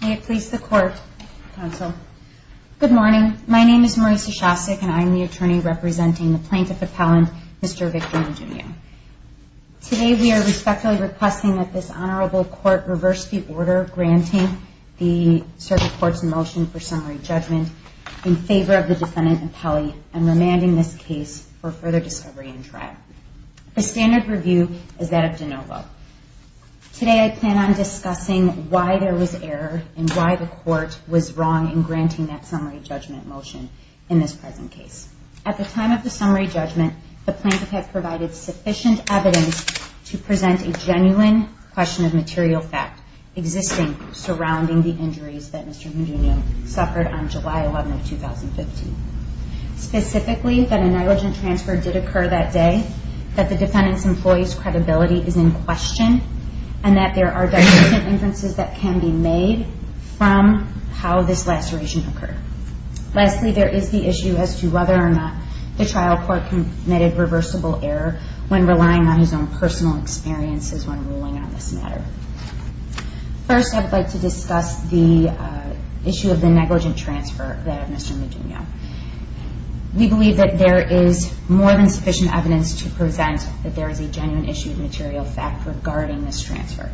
May it please the Court, Counsel. Good morning. My name is Marisa Shostak, and I am the attorney representing the Plaintiff Appellant, Mr. Victor Mugnugno. Today we are respectfully requesting that this Honorable Court reverse the order granting the Circuit Court's motion for summary judgment in favor of the Defendant Appellee and remanding this case for further discovery and trial. The standard review is that of DeNovo. Today I plan on discussing why there was error and why the Court was wrong in granting that summary judgment motion in this present case. At the time of the summary judgment, the Plaintiff had provided sufficient evidence to present a genuine question of material fact existing surrounding the injuries that Mr. Mugnugno suffered on July 11, 2015. Specifically, that a negligent transfer did occur that day, that the Defendant's employee's credibility is in question, and that there are definite inferences that can be made from how this laceration occurred. Lastly, there are no personal experiences when ruling on this matter. First, I would like to discuss the issue of the negligent transfer that of Mr. Mugnugno. We believe that there is more than sufficient evidence to present that there is a genuine issue of material fact regarding this transfer.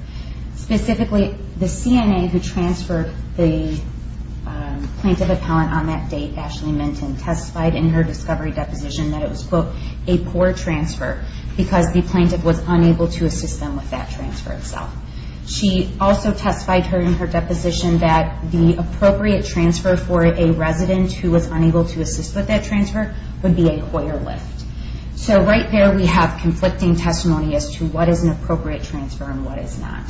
Specifically, the CNA who transferred the Plaintiff Appellant on that date, Ashley Plaintiff was unable to assist them with that transfer itself. She also testified in her deposition that the appropriate transfer for a resident who was unable to assist with that transfer would be a Hoyer Lift. So right there we have conflicting testimony as to what is an appropriate transfer and what is not.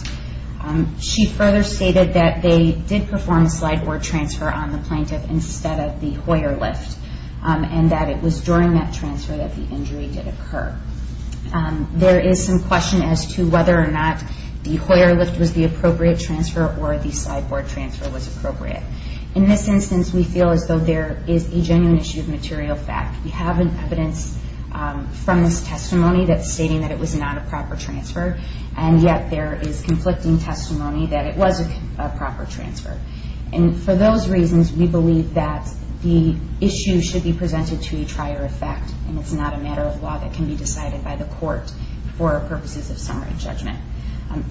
She further stated that they did perform a slide board transfer on the Plaintiff instead of the Hoyer Lift, and that it was during that time that the injury did occur. There is some question as to whether or not the Hoyer Lift was the appropriate transfer or the slide board transfer was appropriate. In this instance, we feel as though there is a genuine issue of material fact. We have evidence from this testimony that's stating that it was not a proper transfer, and yet there is conflicting testimony that it was a proper transfer. And for those reasons, we believe that the issue should be presented to a trier of fact, and it's not a matter of law that can be decided by the court for purposes of summary judgment.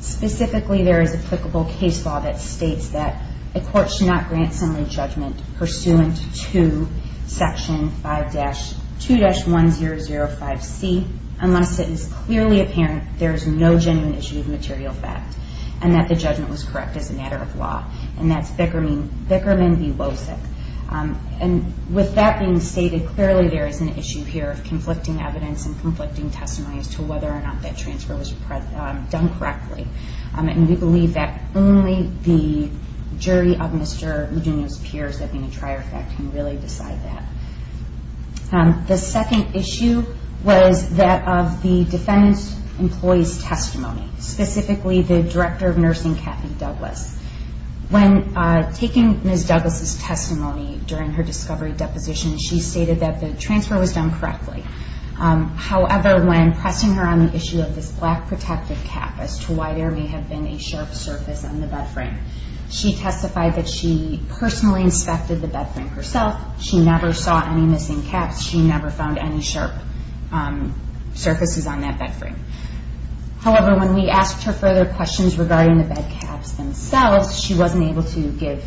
Specifically, there is applicable case law that states that a court should not grant summary judgment pursuant to Section 2-1005C unless it is clearly apparent there is no genuine issue of material fact, and that the judgment was correct as a matter of law. And that's Bickerman v. Losek. And with that being stated, clearly there is an issue here of conflicting evidence and conflicting testimony as to whether or not that transfer was done correctly. And we believe that only the jury of Mr. Eugenio's peers that being a trier of fact can really decide that. The second issue was that of the defendant's employee's testimony, specifically the Director of Nursing, Kathy Douglas. When taking Ms. Douglas' testimony during her discovery deposition, she stated that the transfer was done correctly. However, when pressing her on the issue of this black protective cap as to why there may have been a sharp surface on the bed frame, she testified that she personally inspected the bed frame herself. She never saw any missing caps. She never found any sharp surfaces on that bed frame. However, when we asked her further questions regarding the bed caps themselves, she wasn't able to give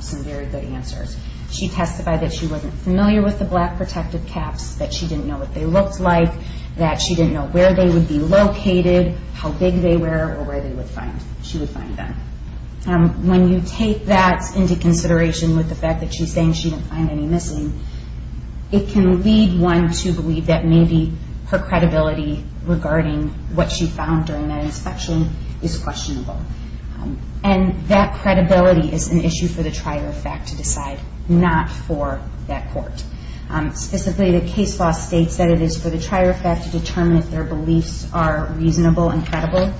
some very good answers. She testified that she wasn't familiar with the black protective caps, that she didn't know what they looked like, that she didn't know where they would be located, how big they were, or where she would find them. When you take that into consideration with the fact that she's saying she didn't find any missing, it can lead one to believe that maybe her credibility regarding what she found during that inspection is questionable. And that credibility is an issue for the trier of fact to decide, not for that court. Specifically, the case law states that it is for the trier of fact to determine if their beliefs are reasonable and credible.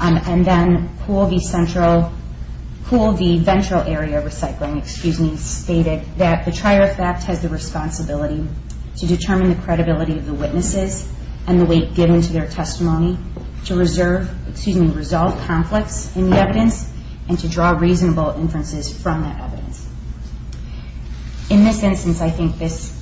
And then Poole v. Ventral Area Recycling, excuse me, stated that the trier of fact has the responsibility to determine the credibility of the witnesses and the weight given to their testimony to reserve, excuse me, resolve conflicts in the evidence and to draw reasonable inferences from that evidence. In this instance, I think this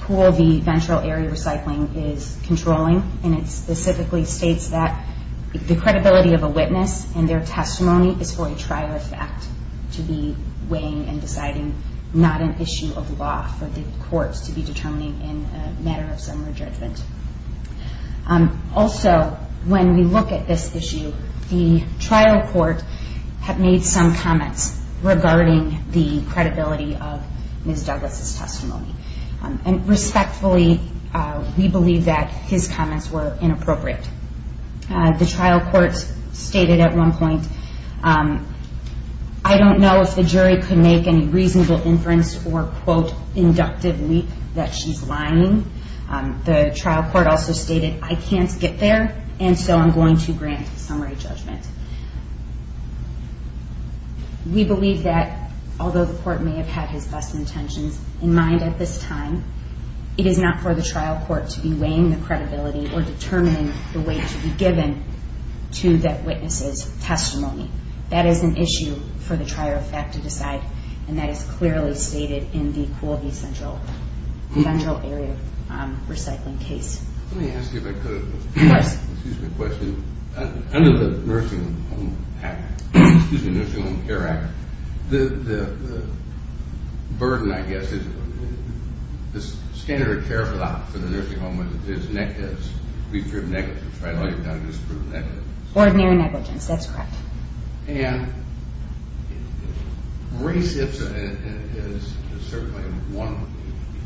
Poole v. Ventral Area Recycling is controlling, and it specifically states that the credibility of a witness and their testimony is for a trier of fact to be weighing and deciding not an issue of law for the courts to be determining in a matter of summary judgment. Also, when we look at this issue, the trial court had made some comments regarding the credibility of Ms. Douglas' testimony. And respectfully, we believe that his comments were inappropriate. The trial court stated at one point, I don't know if the jury could make any reasonable inference or, quote, inductive leap that she's lying. The trial court also stated, I can't get there, and so I'm going to grant summary judgment. We believe that, although the court may have had his best intentions in mind at this time, it is not for the trial court to be weighing the credibility or determining the weight to be given to that witness's testimony. That is an issue for the trier of fact to decide, and that is clearly stated in the Poole v. Ventral Area Recycling case. Let me ask you a question. Under the Nursing Home Care Act, the burden, I guess, is standard care for the nursing home is negative. Ordinary negligence, that's correct. And re-SIPs is certainly one.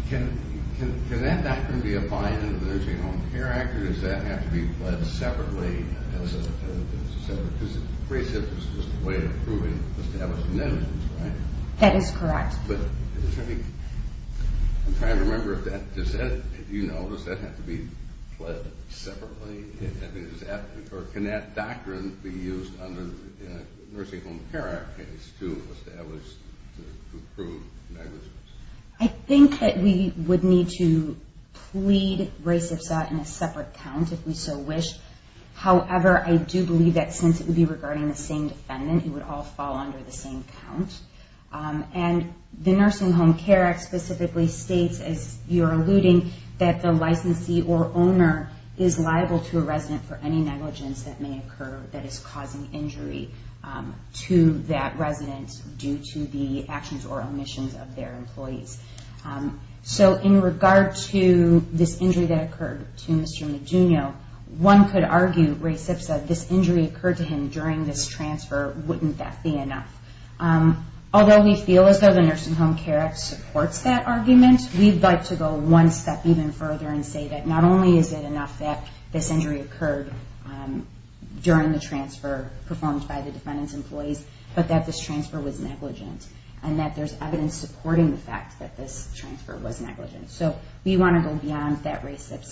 Can that not be a bind under the Nursing Home Care Act, or does that have to be led separately? Because re-SIPs is just a way of proving established negligence, right? That is correct. I'm trying to remember, if you know, does that have to be led separately? Or can that doctrine be used under the Nursing Home Care Act case to establish, to prove negligence? I think that we would need to plead re-SIPs out in a separate count, if we so wish. However, I do believe that since it would be regarding the same defendant, it would all fall under the same count. And the Nursing Home Care Act specifically states, as you're alluding, that the licensee or owner is liable to a resident for any negligence that may occur that is causing injury to that resident due to the actions or omissions of their employees. So in regard to this injury that occurred to Mr. Medugno, one could argue, re-SIPs said, this injury occurred to him during this transfer. Wouldn't that be enough? Although we feel as though the Nursing Home Care Act supports that argument, we'd like to go one step even further and say that not only is it enough that this injury occurred during the transfer performed by the defendant's employees, but that this transfer was negligent. And that there's evidence supporting the fact that this transfer was negligent. So we want to go beyond that re-SIPs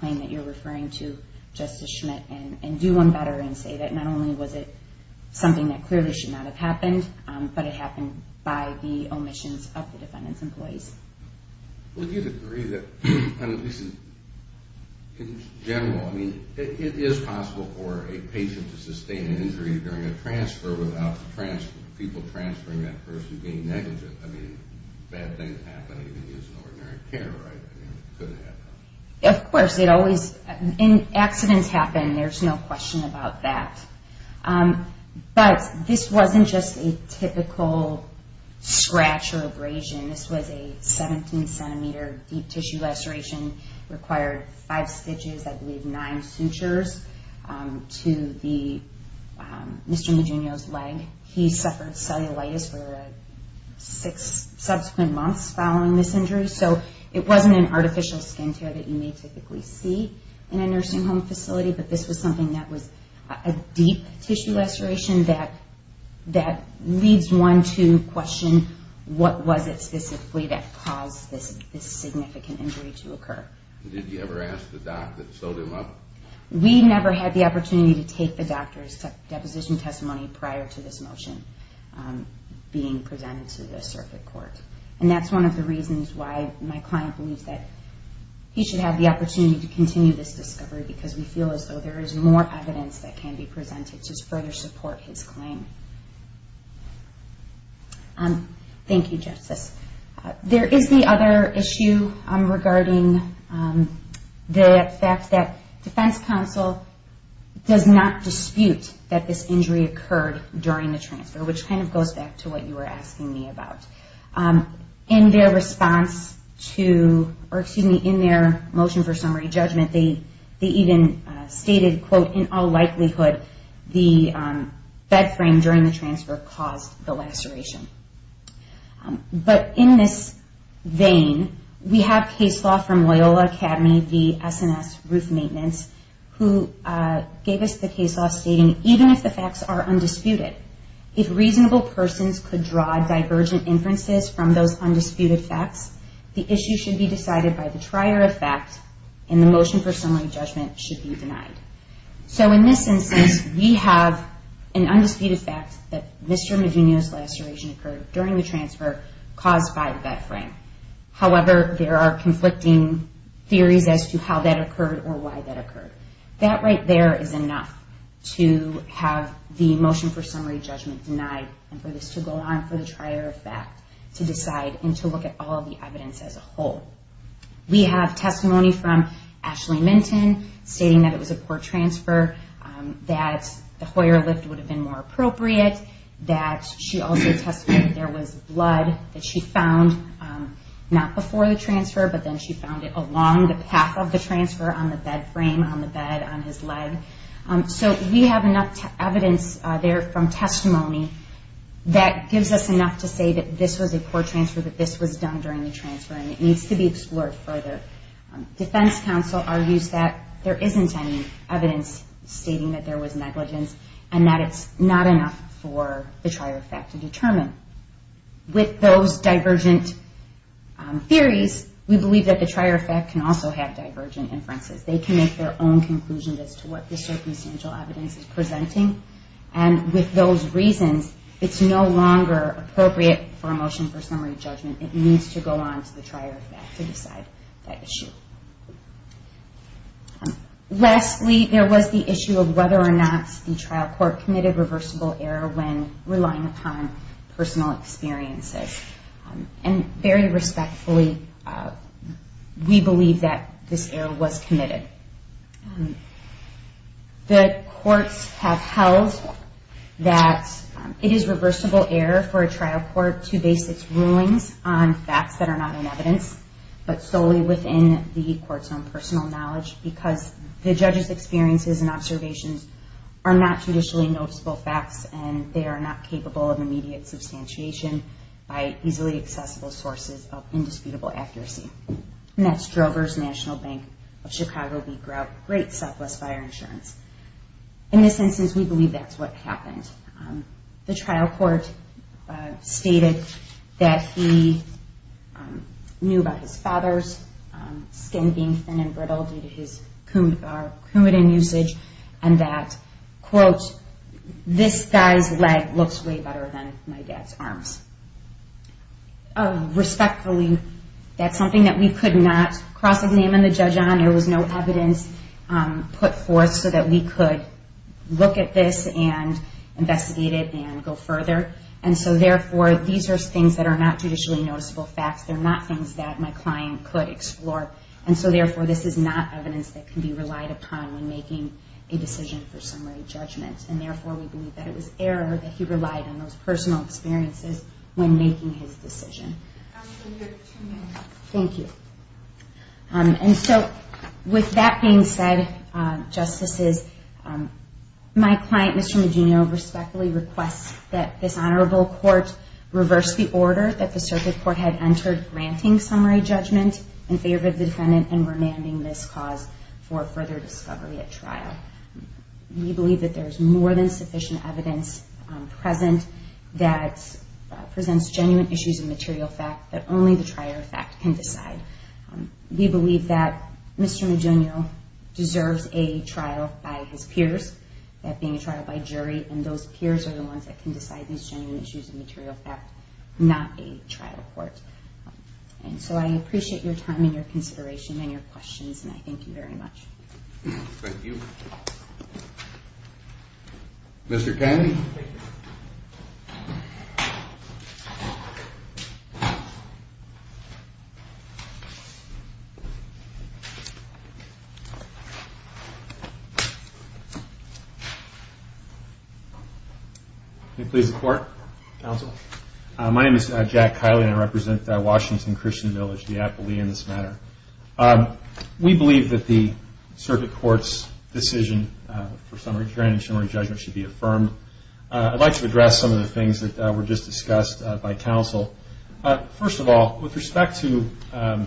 claim that you're referring to, Justice Schmidt, and do one better and say that not only was it something that clearly should not have happened, but it happened by the omissions of the defendant's employees. Well, do you agree that, at least in general, it is possible for a patient to sustain an injury during a transfer without people transferring that person being negligent? I mean, bad things happen even using ordinary care, right? I mean, it could happen. Of course, accidents happen. There's no question about that. But this wasn't just a typical scratch or abrasion. This was a 17-centimeter deep tissue laceration. It required five stitches, I believe nine sutures, to Mr. Medugno's leg. He suffered cellulitis for six subsequent months following this injury, so it wasn't an artificial skin tear that you may typically see in a nursing home facility, but this was something that was a deep tissue laceration that leads one to question what was it specifically that caused this significant injury to occur. Did you ever ask the doc that sewed him up? No. We never had the opportunity to take the doctor's deposition testimony prior to this motion being presented to the circuit court, and that's one of the reasons why my client believes that he should have the opportunity to continue this discovery because we feel as though there is more evidence that can be presented to further support his claim. Thank you, Justice. There is the other issue regarding the fact that defense counsel does not dispute that this injury occurred during the transfer, which kind of goes back to what you were asking me about. In their motion for summary judgment, they even stated, quote, in all likelihood, the bed frame during the transfer caused the laceration. But in this vein, we have case law from Loyola Academy v. S&S Roof Maintenance, who gave us the case law stating, even if the facts are undisputed, if reasonable persons could draw divergent inferences from those undisputed facts, the issue should be decided by the trier of fact, and the motion for summary judgment should be denied. So in this instance, we have an undisputed fact that Mr. Maginio's laceration occurred during the transfer caused by the bed frame. However, there are conflicting theories as to how that occurred or why that occurred. That right there is enough to have the motion for summary judgment denied, and for this to go on for the trier of fact to decide and to look at all the evidence as a whole. We have testimony from Ashley Minton stating that it was a poor transfer, that the Hoyer lift would have been more appropriate, that she also testified that there was blood that she found, not before the transfer, but then she found it along the path of the transfer on the bed frame, on the bed, on his leg. So we have enough evidence there from testimony that gives us enough to say that this was a poor transfer, that this was done during the transfer, and it needs to be explored further. Defense counsel argues that there isn't any evidence stating that there was negligence, and that it's not enough for the trier of fact to determine. With those divergent theories, we believe that the trier of fact can also have divergent inferences. They can make their own conclusions as to what the circumstantial evidence is presenting, and with those reasons, it's no longer appropriate for a motion for summary judgment. It needs to go on to the trier of fact to decide that issue. Lastly, there was the issue of whether or not the trial court committed reversible error when relying upon personal experiences. And very respectfully, we believe that this error was committed. The courts have held that it is reversible error for a trial court to base its rulings on facts that are not in evidence, but solely within the court's own personal knowledge, because the judge's experiences and observations are not judicially noticeable facts, and they are not capable of immediate substantiation by easily accessible sources of indisputable accuracy. And that's Drover's National Bank of Chicago v. Grout, Great Southwest Fire Insurance. In this instance, we believe that's what happened. The trial court stated that he knew about his father's skin being thin and brittle due to his coumadin usage, and that, quote, this guy's leg looks way better than my dad's arms. Respectfully, that's something that we could not cross-examine the judge on. There was no evidence put forth so that we could look at this and investigate it and go further. And so, therefore, these are things that are not judicially noticeable facts. They're not things that my client could explore. And so, therefore, this is not evidence that can be relied upon when making a decision for summary judgment. And, therefore, we believe that it was error that he relied on those personal experiences when making his decision. Thank you. And so, with that being said, Justices, my client, Mr. Maginio, respectfully requests that this honorable court reverse the order that the circuit court had entered granting summary judgment in favor of the defendant and remanding this cause for further discovery at trial. We believe that there is more than sufficient evidence present that presents genuine issues of material fact that only the trier of fact can decide. We believe that Mr. Maginio deserves a trial by his peers, that being a trial by jury, and those peers are the ones that can decide these genuine issues of material fact, not a trial court. And so I appreciate your time and your consideration and your questions, and I thank you very much. Thank you. Mr. Kiley? Can you please report, counsel? My name is Jack Kiley, and I represent Washington Christian Village, the appellee in this matter. We believe that the circuit court's decision for summary judgment should be affirmed. I'd like to address some of the things that were just discussed by counsel. First of all, with respect to the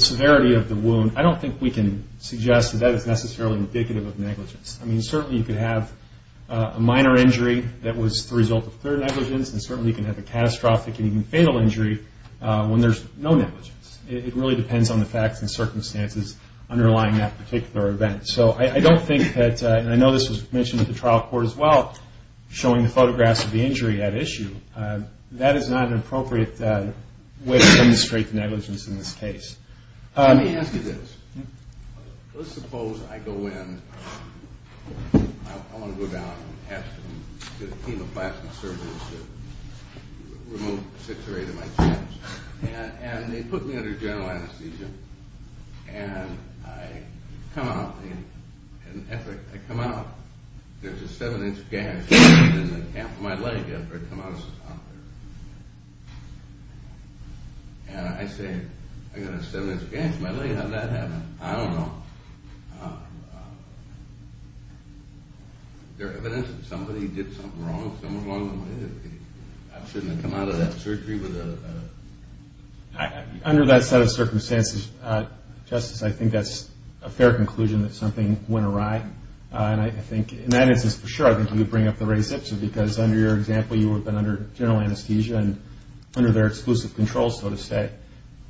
severity of the wound, I don't think we can suggest that that is necessarily indicative of negligence. I mean, certainly you could have a minor injury that was the result of third negligence, and certainly you can have a catastrophic and even fatal injury when there's no negligence. It really depends on the facts and circumstances underlying that particular event. So I don't think that, and I know this was mentioned at the trial court as well, showing the photographs of the injury at issue, that is not an appropriate way to demonstrate the negligence in this case. Let me ask you this. Let's suppose I go in. I want to go down and ask the team of plastic surgeons to remove six or eight of my chins, and they put me under general anesthesia, and I come out. I come out. There's a seven-inch gash in the calf of my leg after I come out of the hospital. And I say, I've got a seven-inch gash in my leg. How did that happen? I don't know. There's evidence that somebody did something wrong. I shouldn't have come out of that surgery with a... Under that set of circumstances, Justice, I think that's a fair conclusion that something went awry. And I think in that instance, for sure, I think you would bring up the reception, because under your example, you would have been under general anesthesia and under their exclusive control, so to say.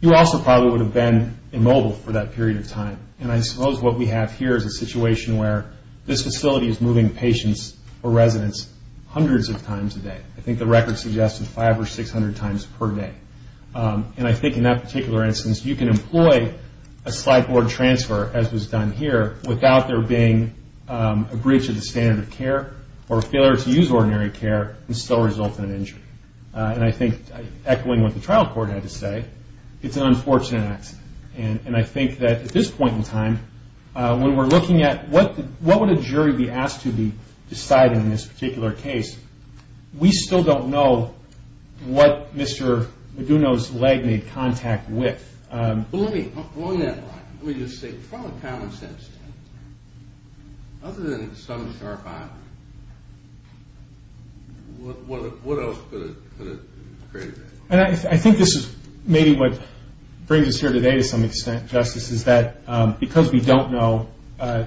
You also probably would have been immobile for that period of time. And I suppose what we have here is a situation where this facility is moving patients or residents hundreds of times a day. I think the record suggests it's 500 or 600 times per day. And I think in that particular instance, you can employ a slideboard transfer, as was done here, without there being a breach of the standard of care or failure to use ordinary care and still result in an injury. And I think, echoing what the trial court had to say, it's an unfortunate accident. And I think that at this point in time, when we're looking at what would a jury be asked to be deciding in this particular case, we still don't know what Mr. Maduno's leg made contact with. Well, let me, along that line, let me just say, from a common sense standpoint, other than some sharp eye, what else could have created that? And I think this is maybe what brings us here today to some extent, Justice, is that because we don't know,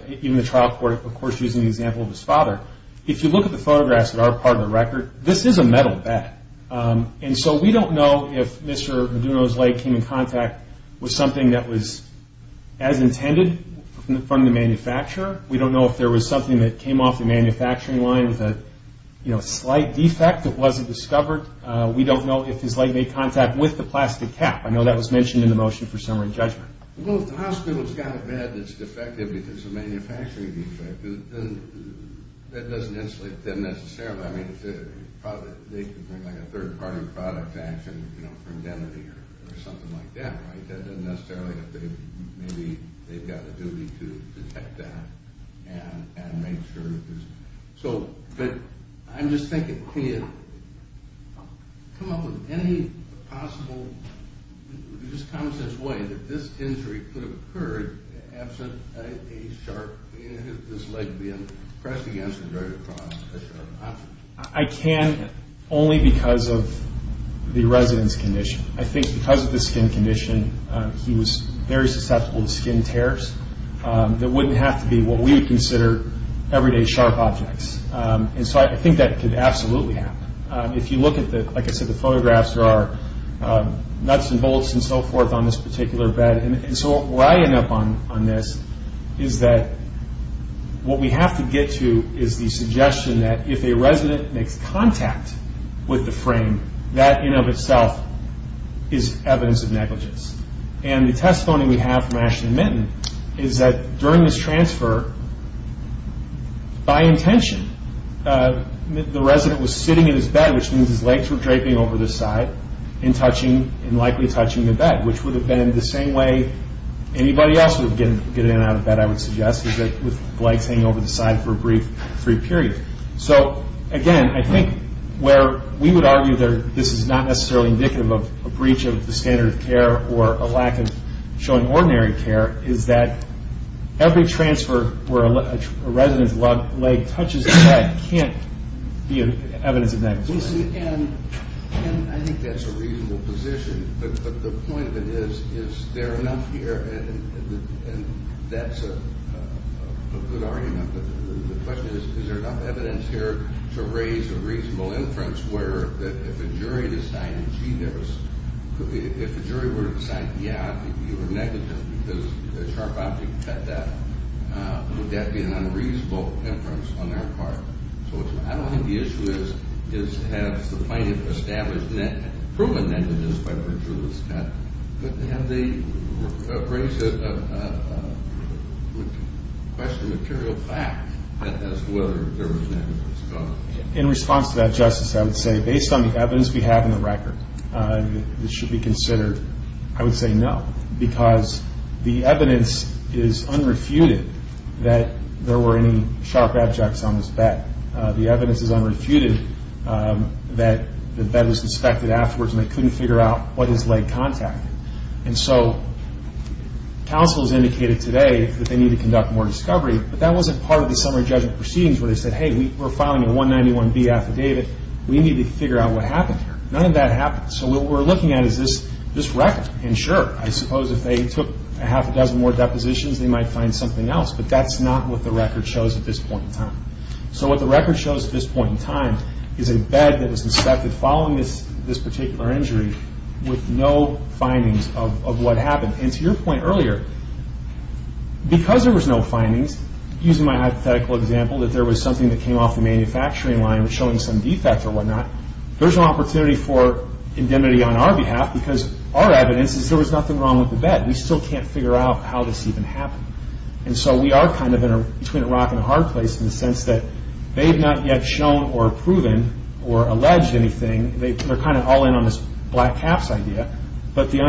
even the trial court, of course, using the example of his father, if you look at the photographs that are part of the record, this is a metal bed. And so we don't know if Mr. Maduno's leg came in contact with something that was as intended from the manufacturer. We don't know if there was something that came off the manufacturing line with a slight defect that wasn't discovered. We don't know if his leg made contact with the plastic cap. I know that was mentioned in the motion for summary judgment. Well, if the hospital's got a bed that's defective because of a manufacturing defect, that doesn't necessarily, I mean, they could bring, like, a third-party product to action for indemnity or something like that, right? It doesn't necessarily, maybe they've got a duty to detect that and make sure that there's... So, but I'm just thinking, can you come up with any possible, just common-sense way that this injury could have occurred absent a sharp, this leg being pressed against and dragged across a sharp object? I can only because of the resident's condition. I think because of the skin condition, he was very susceptible to skin tears. That wouldn't have to be what we would consider everyday sharp objects. And so I think that could absolutely happen. If you look at the, like I said, the photographs, there are nuts and bolts and so forth on this particular bed. And so where I end up on this is that what we have to get to is the suggestion that if a resident makes contact with the frame, that in and of itself is evidence of negligence. And the testimony we have from Ashton and Minton is that during this transfer, by intention, the resident was sitting in his bed, which means his legs were draping over the side and touching, and likely touching the bed, which would have been the same way anybody else would get in and out of bed, I would suggest, with legs hanging over the side for a brief period. So again, I think where we would argue that this is not necessarily indicative of a breach of the standard of care or a lack of showing ordinary care is that every transfer where a resident's leg touches the bed can't be evidence of negligence. And I think that's a reasonable position, but the point of it is, is there enough here? And that's a good argument. The question is, is there enough evidence here to raise a reasonable inference where if a jury decided, gee, if a jury were to decide, yeah, you were negligent because the sharp object cut that, would that be an unreasonable inference on their part? So I don't think the issue is, has the plaintiff established, proven negligence by virtue of this cut, but have they raised a question of material value, and the fact that that's whether there was negligence. In response to that, Justice, I would say, based on the evidence we have in the record, this should be considered, I would say no, because the evidence is unrefuted that there were any sharp objects on this bed. The evidence is unrefuted that the bed was inspected afterwards and they couldn't figure out what his leg contacted. And so counsel has indicated today that they need to conduct more discovery, but that wasn't part of the summary judgment proceedings where they said, hey, we're filing a 191B affidavit, we need to figure out what happened here. None of that happened, so what we're looking at is this record. And sure, I suppose if they took a half a dozen more depositions, they might find something else, but that's not what the record shows at this point in time. So what the record shows at this point in time is a bed that was inspected following this particular injury with no findings of what happened. And to your point earlier, because there was no findings, using my hypothetical example, that there was something that came off the manufacturing line showing some defect or whatnot, there's an opportunity for indemnity on our behalf because our evidence is there was nothing wrong with the bed. We still can't figure out how this even happened. And so we are kind of between a rock and a hard place in the sense that they've not yet shown or proven or alleged anything. They're kind of all in on this black caps idea, but the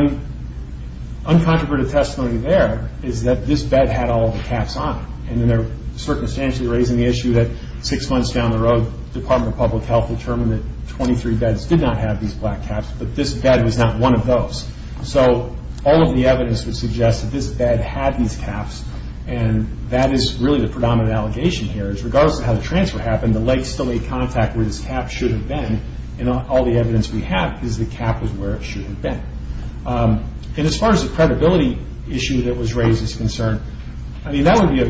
uncontroverted testimony there is that this bed had all the caps on it. And they're circumstantially raising the issue that six months down the road, the Department of Public Health determined that 23 beds did not have these black caps, but this bed was not one of those. So all of the evidence would suggest that this bed had these caps, and that is really the predominant allegation here is regardless of how the transfer happened, the lake still made contact where this cap should have been, and all the evidence we have is the cap was where it should have been. And as far as the credibility issue that was raised is concerned, I mean, that would be,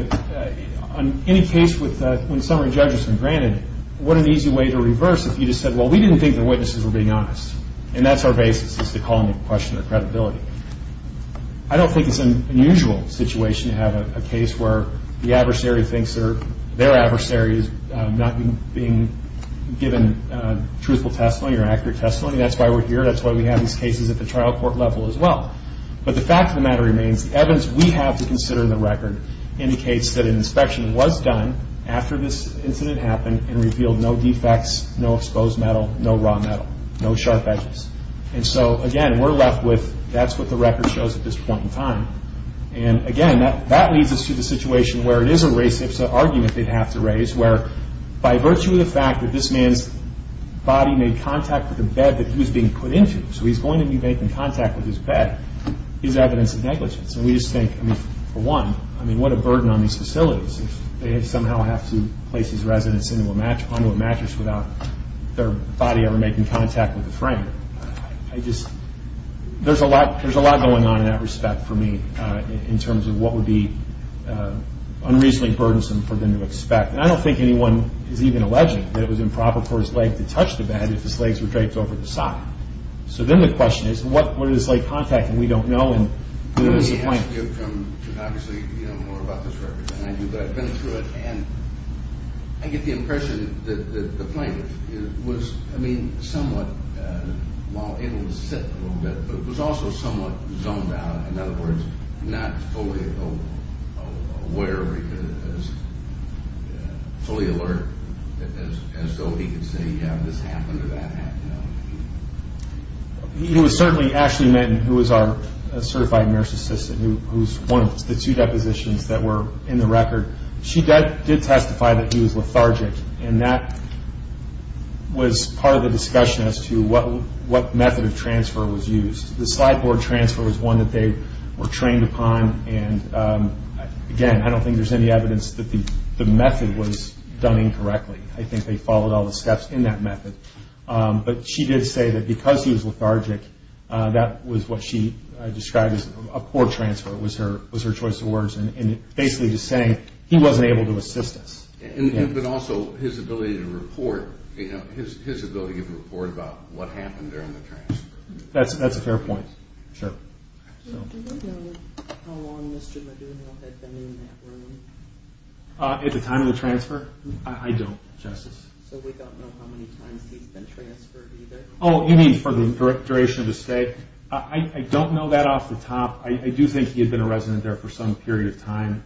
on any case when summary judges are granted, what an easy way to reverse if you just said, well, we didn't think the witnesses were being honest. And that's our basis is to call into question their credibility. I don't think it's an unusual situation to have a case where the adversary thinks their adversary is not being given truthful testimony or accurate testimony. That's why we're here. That's why we have these cases at the trial court level as well. But the fact of the matter remains, the evidence we have to consider in the record indicates that an inspection was done after this incident happened and revealed no defects, no exposed metal, no raw metal, no sharp edges. And so, again, we're left with that's what the record shows at this point in time. And, again, that leads us to the situation where it is a race, it's an argument they'd have to raise, where by virtue of the fact that this man's body made contact with the bed that he was being put into, so he's going to be making contact with his bed, is evidence of negligence. And we just think, I mean, for one, I mean, what a burden on these facilities if they somehow have to place these residents onto a mattress without their body ever making contact with the frame. I just, there's a lot going on in that respect for me in terms of what would be unreasonably burdensome for them to expect. And I don't think anyone is even alleging that it was improper for his leg to touch the bed if his legs were draped over the side. So then the question is, what is this leg contacting? We don't know and we're disappointed. I get the impression that the plane was, I mean, somewhat, while able to sit a little bit, but it was also somewhat zoned out. In other words, not fully aware, fully alert, as though he could say, yeah, this happened or that happened. He was certainly, Ashley Menton, who was our certified nurse assistant, who's one of the two depositions that were in the record, she did testify that he was lethargic. And that was part of the discussion as to what method of transfer was used. The slideboard transfer was one that they were trained upon. And again, I don't think there's any evidence that the method was done incorrectly. I think they followed all the steps in that method. But she did say that because he was lethargic, that was what she described as a poor transfer was her choice of words. And basically just saying he wasn't able to assist us. But also his ability to report, his ability to report about what happened during the transfer. That's a fair point, sure. At the time of the transfer? I don't, Justice. Oh, you mean for the duration of his stay? I don't know that off the top. I do think he had been a resident there for some period of time.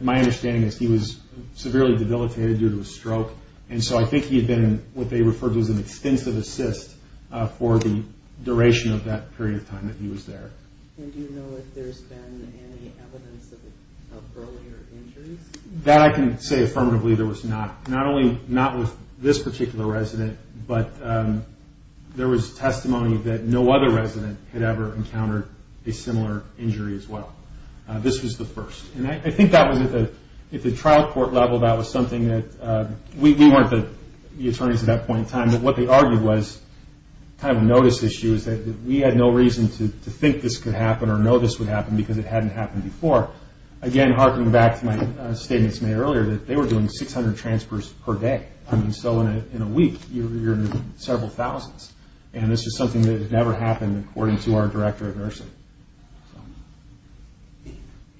My understanding is he was severely debilitated due to a stroke. And so I think he had been what they referred to as an extensive assist for the duration of that period of time that he was there. And do you know if there's been any evidence of earlier injuries? That I can say affirmatively there was not. Not only not with this particular resident, but there was testimony that no other resident had ever encountered a similar injury as well. This was the first. And I think that was at the trial court level that was something that we weren't the attorneys at that point in time. But what they argued was kind of a notice issue is that we had no reason to think this could happen or know this would happen because it hadn't happened before. Again, harking back to my statements made earlier that they were doing 600 transfers per day. I mean, so in a week you're in the several thousands. And this is something that had never happened according to our director of nursing.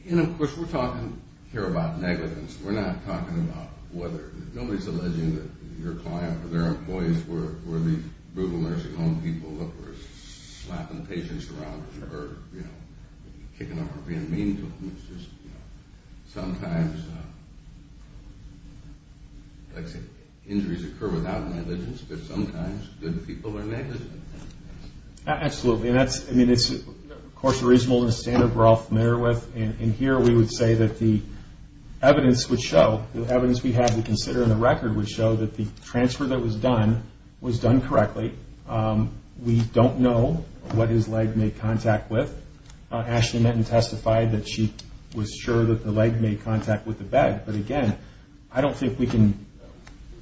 And of course we're talking here about negligence. We're not talking about whether, nobody's alleging that your client or their employees were the brutal nursing home people that were slapping patients around or kicking them or being mean to them. Sometimes, like I said, injuries occur without negligence, but sometimes good people are negligent. Absolutely. And that's, I mean, it's of course a reasonable standard we're all familiar with. And here we would say that the evidence would show, the evidence we have to consider in the record would show that the transfer that was done was done correctly. We don't know what his leg made contact with. Ashley Menton testified that she was sure that the leg made contact with the bed. But again, I don't think we can,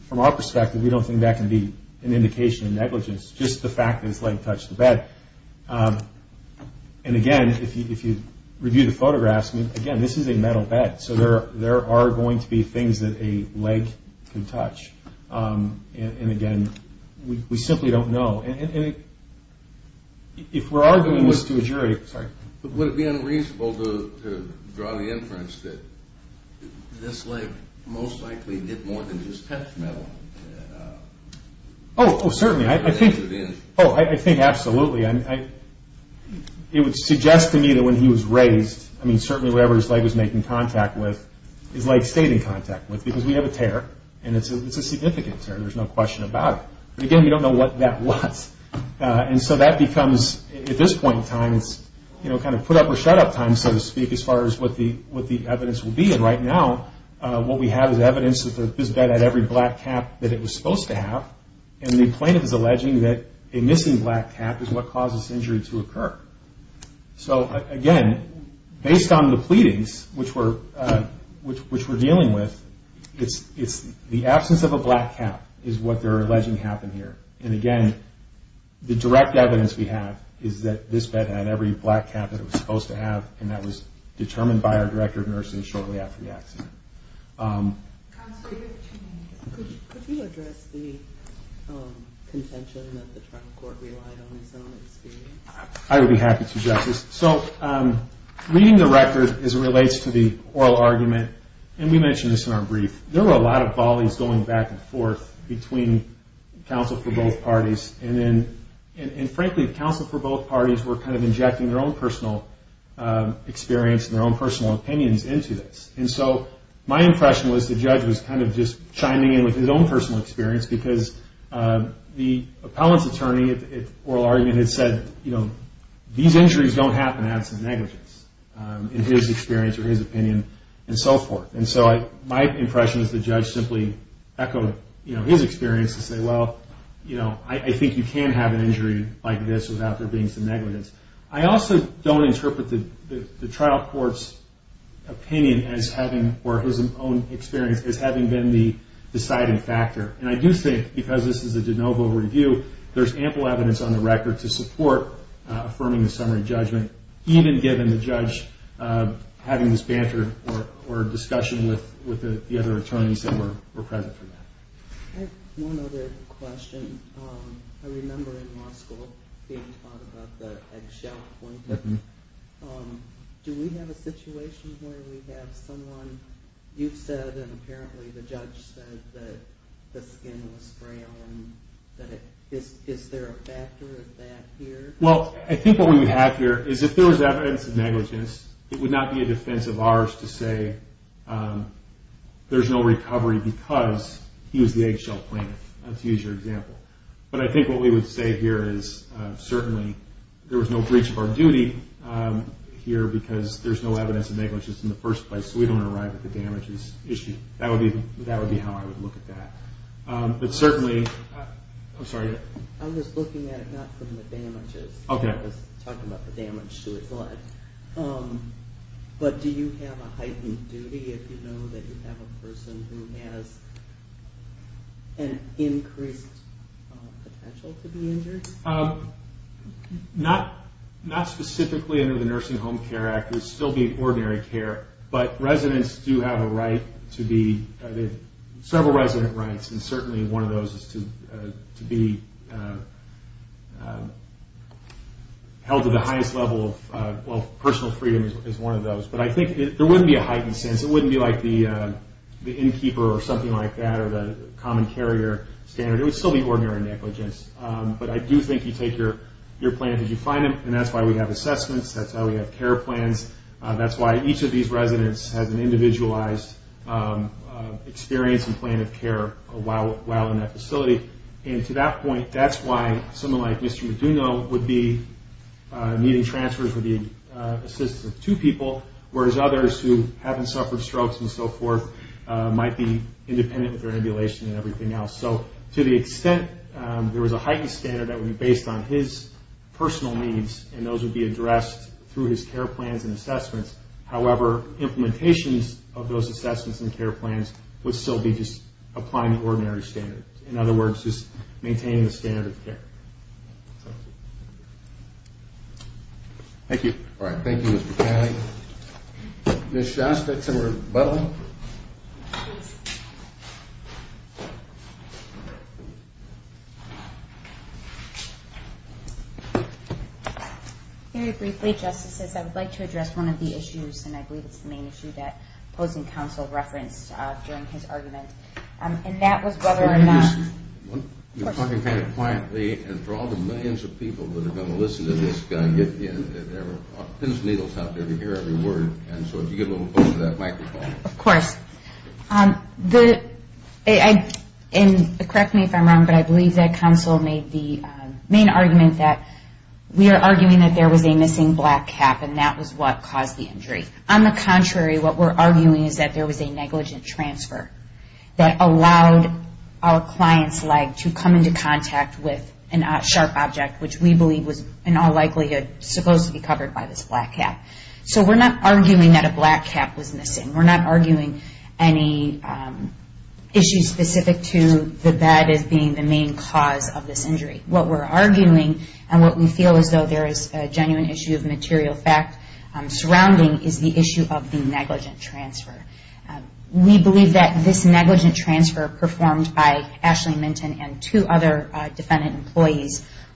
from our perspective, we don't think that can be an indication of negligence. Just the fact that his leg touched the bed. And again, if you review the photographs, again, this is a metal bed. So there are going to be things that a leg can touch. And again, we simply don't know. If we're arguing this to a jury... Would it be unreasonable to draw the inference that this leg most likely did more than just touch metal? Oh, certainly. I think absolutely. It would suggest to me that when he was raised, I mean, certainly whatever his leg was making contact with, his leg stayed in contact with, because we have a tear, and it's a significant tear. There's no question about it. But again, we don't know what that was. And so that becomes, at this point in time, it's kind of put up or shut up time, so to speak, as far as what the evidence will be. And right now, what we have is evidence that this bed had every black cap that it was supposed to have, and the plaintiff is alleging that a missing black cap is what caused this injury to occur. So again, based on the pleadings, which we're dealing with, the absence of a black cap is what they're alleging happened here. And again, the direct evidence we have is that this bed had every black cap that it was supposed to have, and that was determined by our director of nursing shortly after the accident. Could you address the contention that the trial court relied on its own experience? I would be happy to, Justice. So reading the record as it relates to the oral argument, and we mentioned this in our brief, there were a lot of volleys going back and forth between counsel for both parties, and frankly, counsel for both parties were kind of injecting their own personal experience and their own personal opinions into this. And so my impression was the judge was kind of just chiming in with his own personal experience, because the appellant's attorney at oral argument had said, you know, these injuries don't happen to have some negligence in his experience or his opinion, and so forth. And so my impression is the judge simply echoed his experience to say, well, you know, I think you can have an injury like this without there being some negligence. I also don't interpret the trial court's opinion as having, or his own experience as having been the deciding factor. And I do think, because this is a de novo review, there's ample evidence on the record to support affirming the summary judgment, even given the judge having this banter or discussion with the other attorneys that were present for that. I have one other question. I remember in law school being taught about the eggshell point. Do we have a situation where we have someone, you've said, and apparently the judge said that the skin was brown, and is there a factor of that here? Well, I think what we have here is if there was evidence of negligence, it would not be a defense of ours to say there's no recovery because he was the eggshell plaintiff, to use your example. But I think what we would say here is certainly there was no breach of our duty here because there's no evidence of negligence in the first place, so we don't arrive at the damages issue. That would be how I would look at that. I'm just looking at it not from the damages. I was talking about the damage to his leg. But do you have a heightened duty if you know that you have a person who has an increased potential to be injured? Not specifically under the Nursing Home Care Act. It would still be ordinary care. But residents do have a right to be, several resident rights, and certainly one of those is to be held to the highest level of personal freedom is one of those. But I think there wouldn't be a heightened sense. It wouldn't be like the innkeeper or something like that, or the common carrier standard. It would still be ordinary negligence. But I do think you take your plaintiff as you find him, and that's why we have assessments, that's why we have care plans, that's why each of these residents has an individualized experience and plan of care while in that facility. And to that point, that's why someone like Mr. Meduno would be needing transfers, would be assistance of two people, whereas others who haven't suffered strokes and so forth might be independent with their ambulation and everything else. So to the extent there was a heightened standard that would be based on his personal needs, and those would be addressed through his care plans and assessments. However, implementations of those assessments and care plans would still be just applying the ordinary standards. In other words, just maintaining the standard of care. Thank you. All right. Thank you, Mr. McKinley. Ms. Shostek to rebuttal. Very briefly, Justices, I would like to address one of the issues, and I believe it's the main issue that opposing counsel referenced during his argument, and that was whether or not there was a missing black cap, and that was what caused the injury. On the contrary, what we're arguing is that there is a genuine issue of material fact surrounding is the issue of the negligent transfer. We believe that this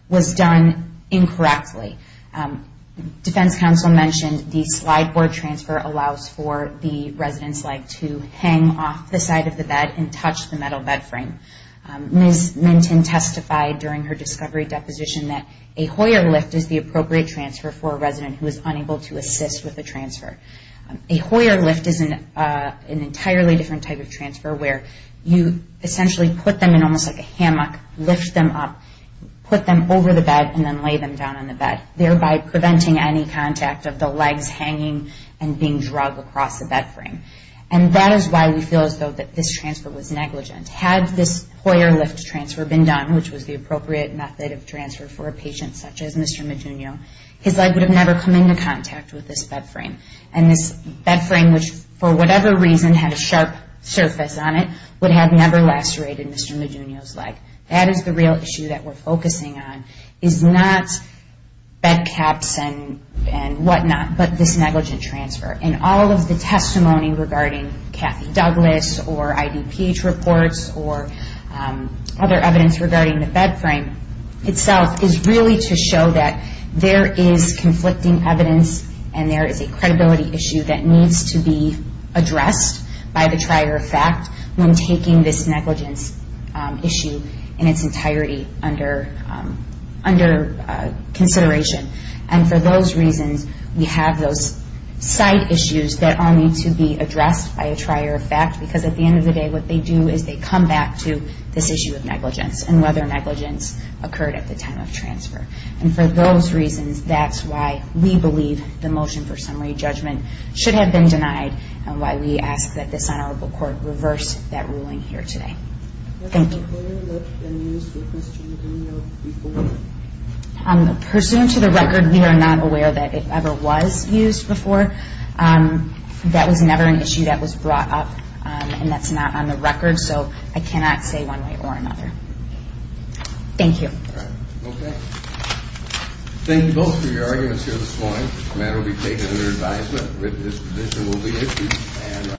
was done incorrectly. Defense counsel mentioned the slide board transfer allows for the residents to hang off the side of the bed and touch the metal bed frame. Ms. Minton testified during her discovery deposition that a Hoyer lift is the appropriate transfer for a resident who is unable to assist with a transfer. A Hoyer lift is an entirely different type of transfer where you essentially put them in almost like a hammock, lift them up, put them over the bed, and then lay them down on the bed, thereby preventing any contact of the legs hanging and being drug across the bed frame. And that is why we feel as though this transfer was negligent. Had this Hoyer lift transfer been done, which was the appropriate method of transfer for a patient such as Mr. Medunio, his leg would have never come into contact with this bed frame. And this bed frame, which for whatever reason had a sharp surface on it, would have never lacerated Mr. Medunio's leg. That is the real issue that we're focusing on, is not bed caps and whatnot, but this negligent transfer. And all of the testimony regarding Kathy Douglas or IDPH reports or other evidence regarding the bed frame itself is really to show that there is conflicting evidence and there is a credibility issue that needs to be addressed by the trier of fact when taking this negligence issue in its entirety under consideration. And for those reasons, we have those side issues that need to be addressed by a trier of fact, because at the end of the day, what they do is they come back to this issue of negligence and whether negligence occurred at the time of transfer. And for those reasons, that's why we believe the motion for summary judgment should have been denied and why we ask that this Honorable Court reverse that ruling here today. Thank you. Pursuant to the record, we are not aware that it ever was used before. That was never an issue that was brought up and that's not on the record, so I cannot say one way or another.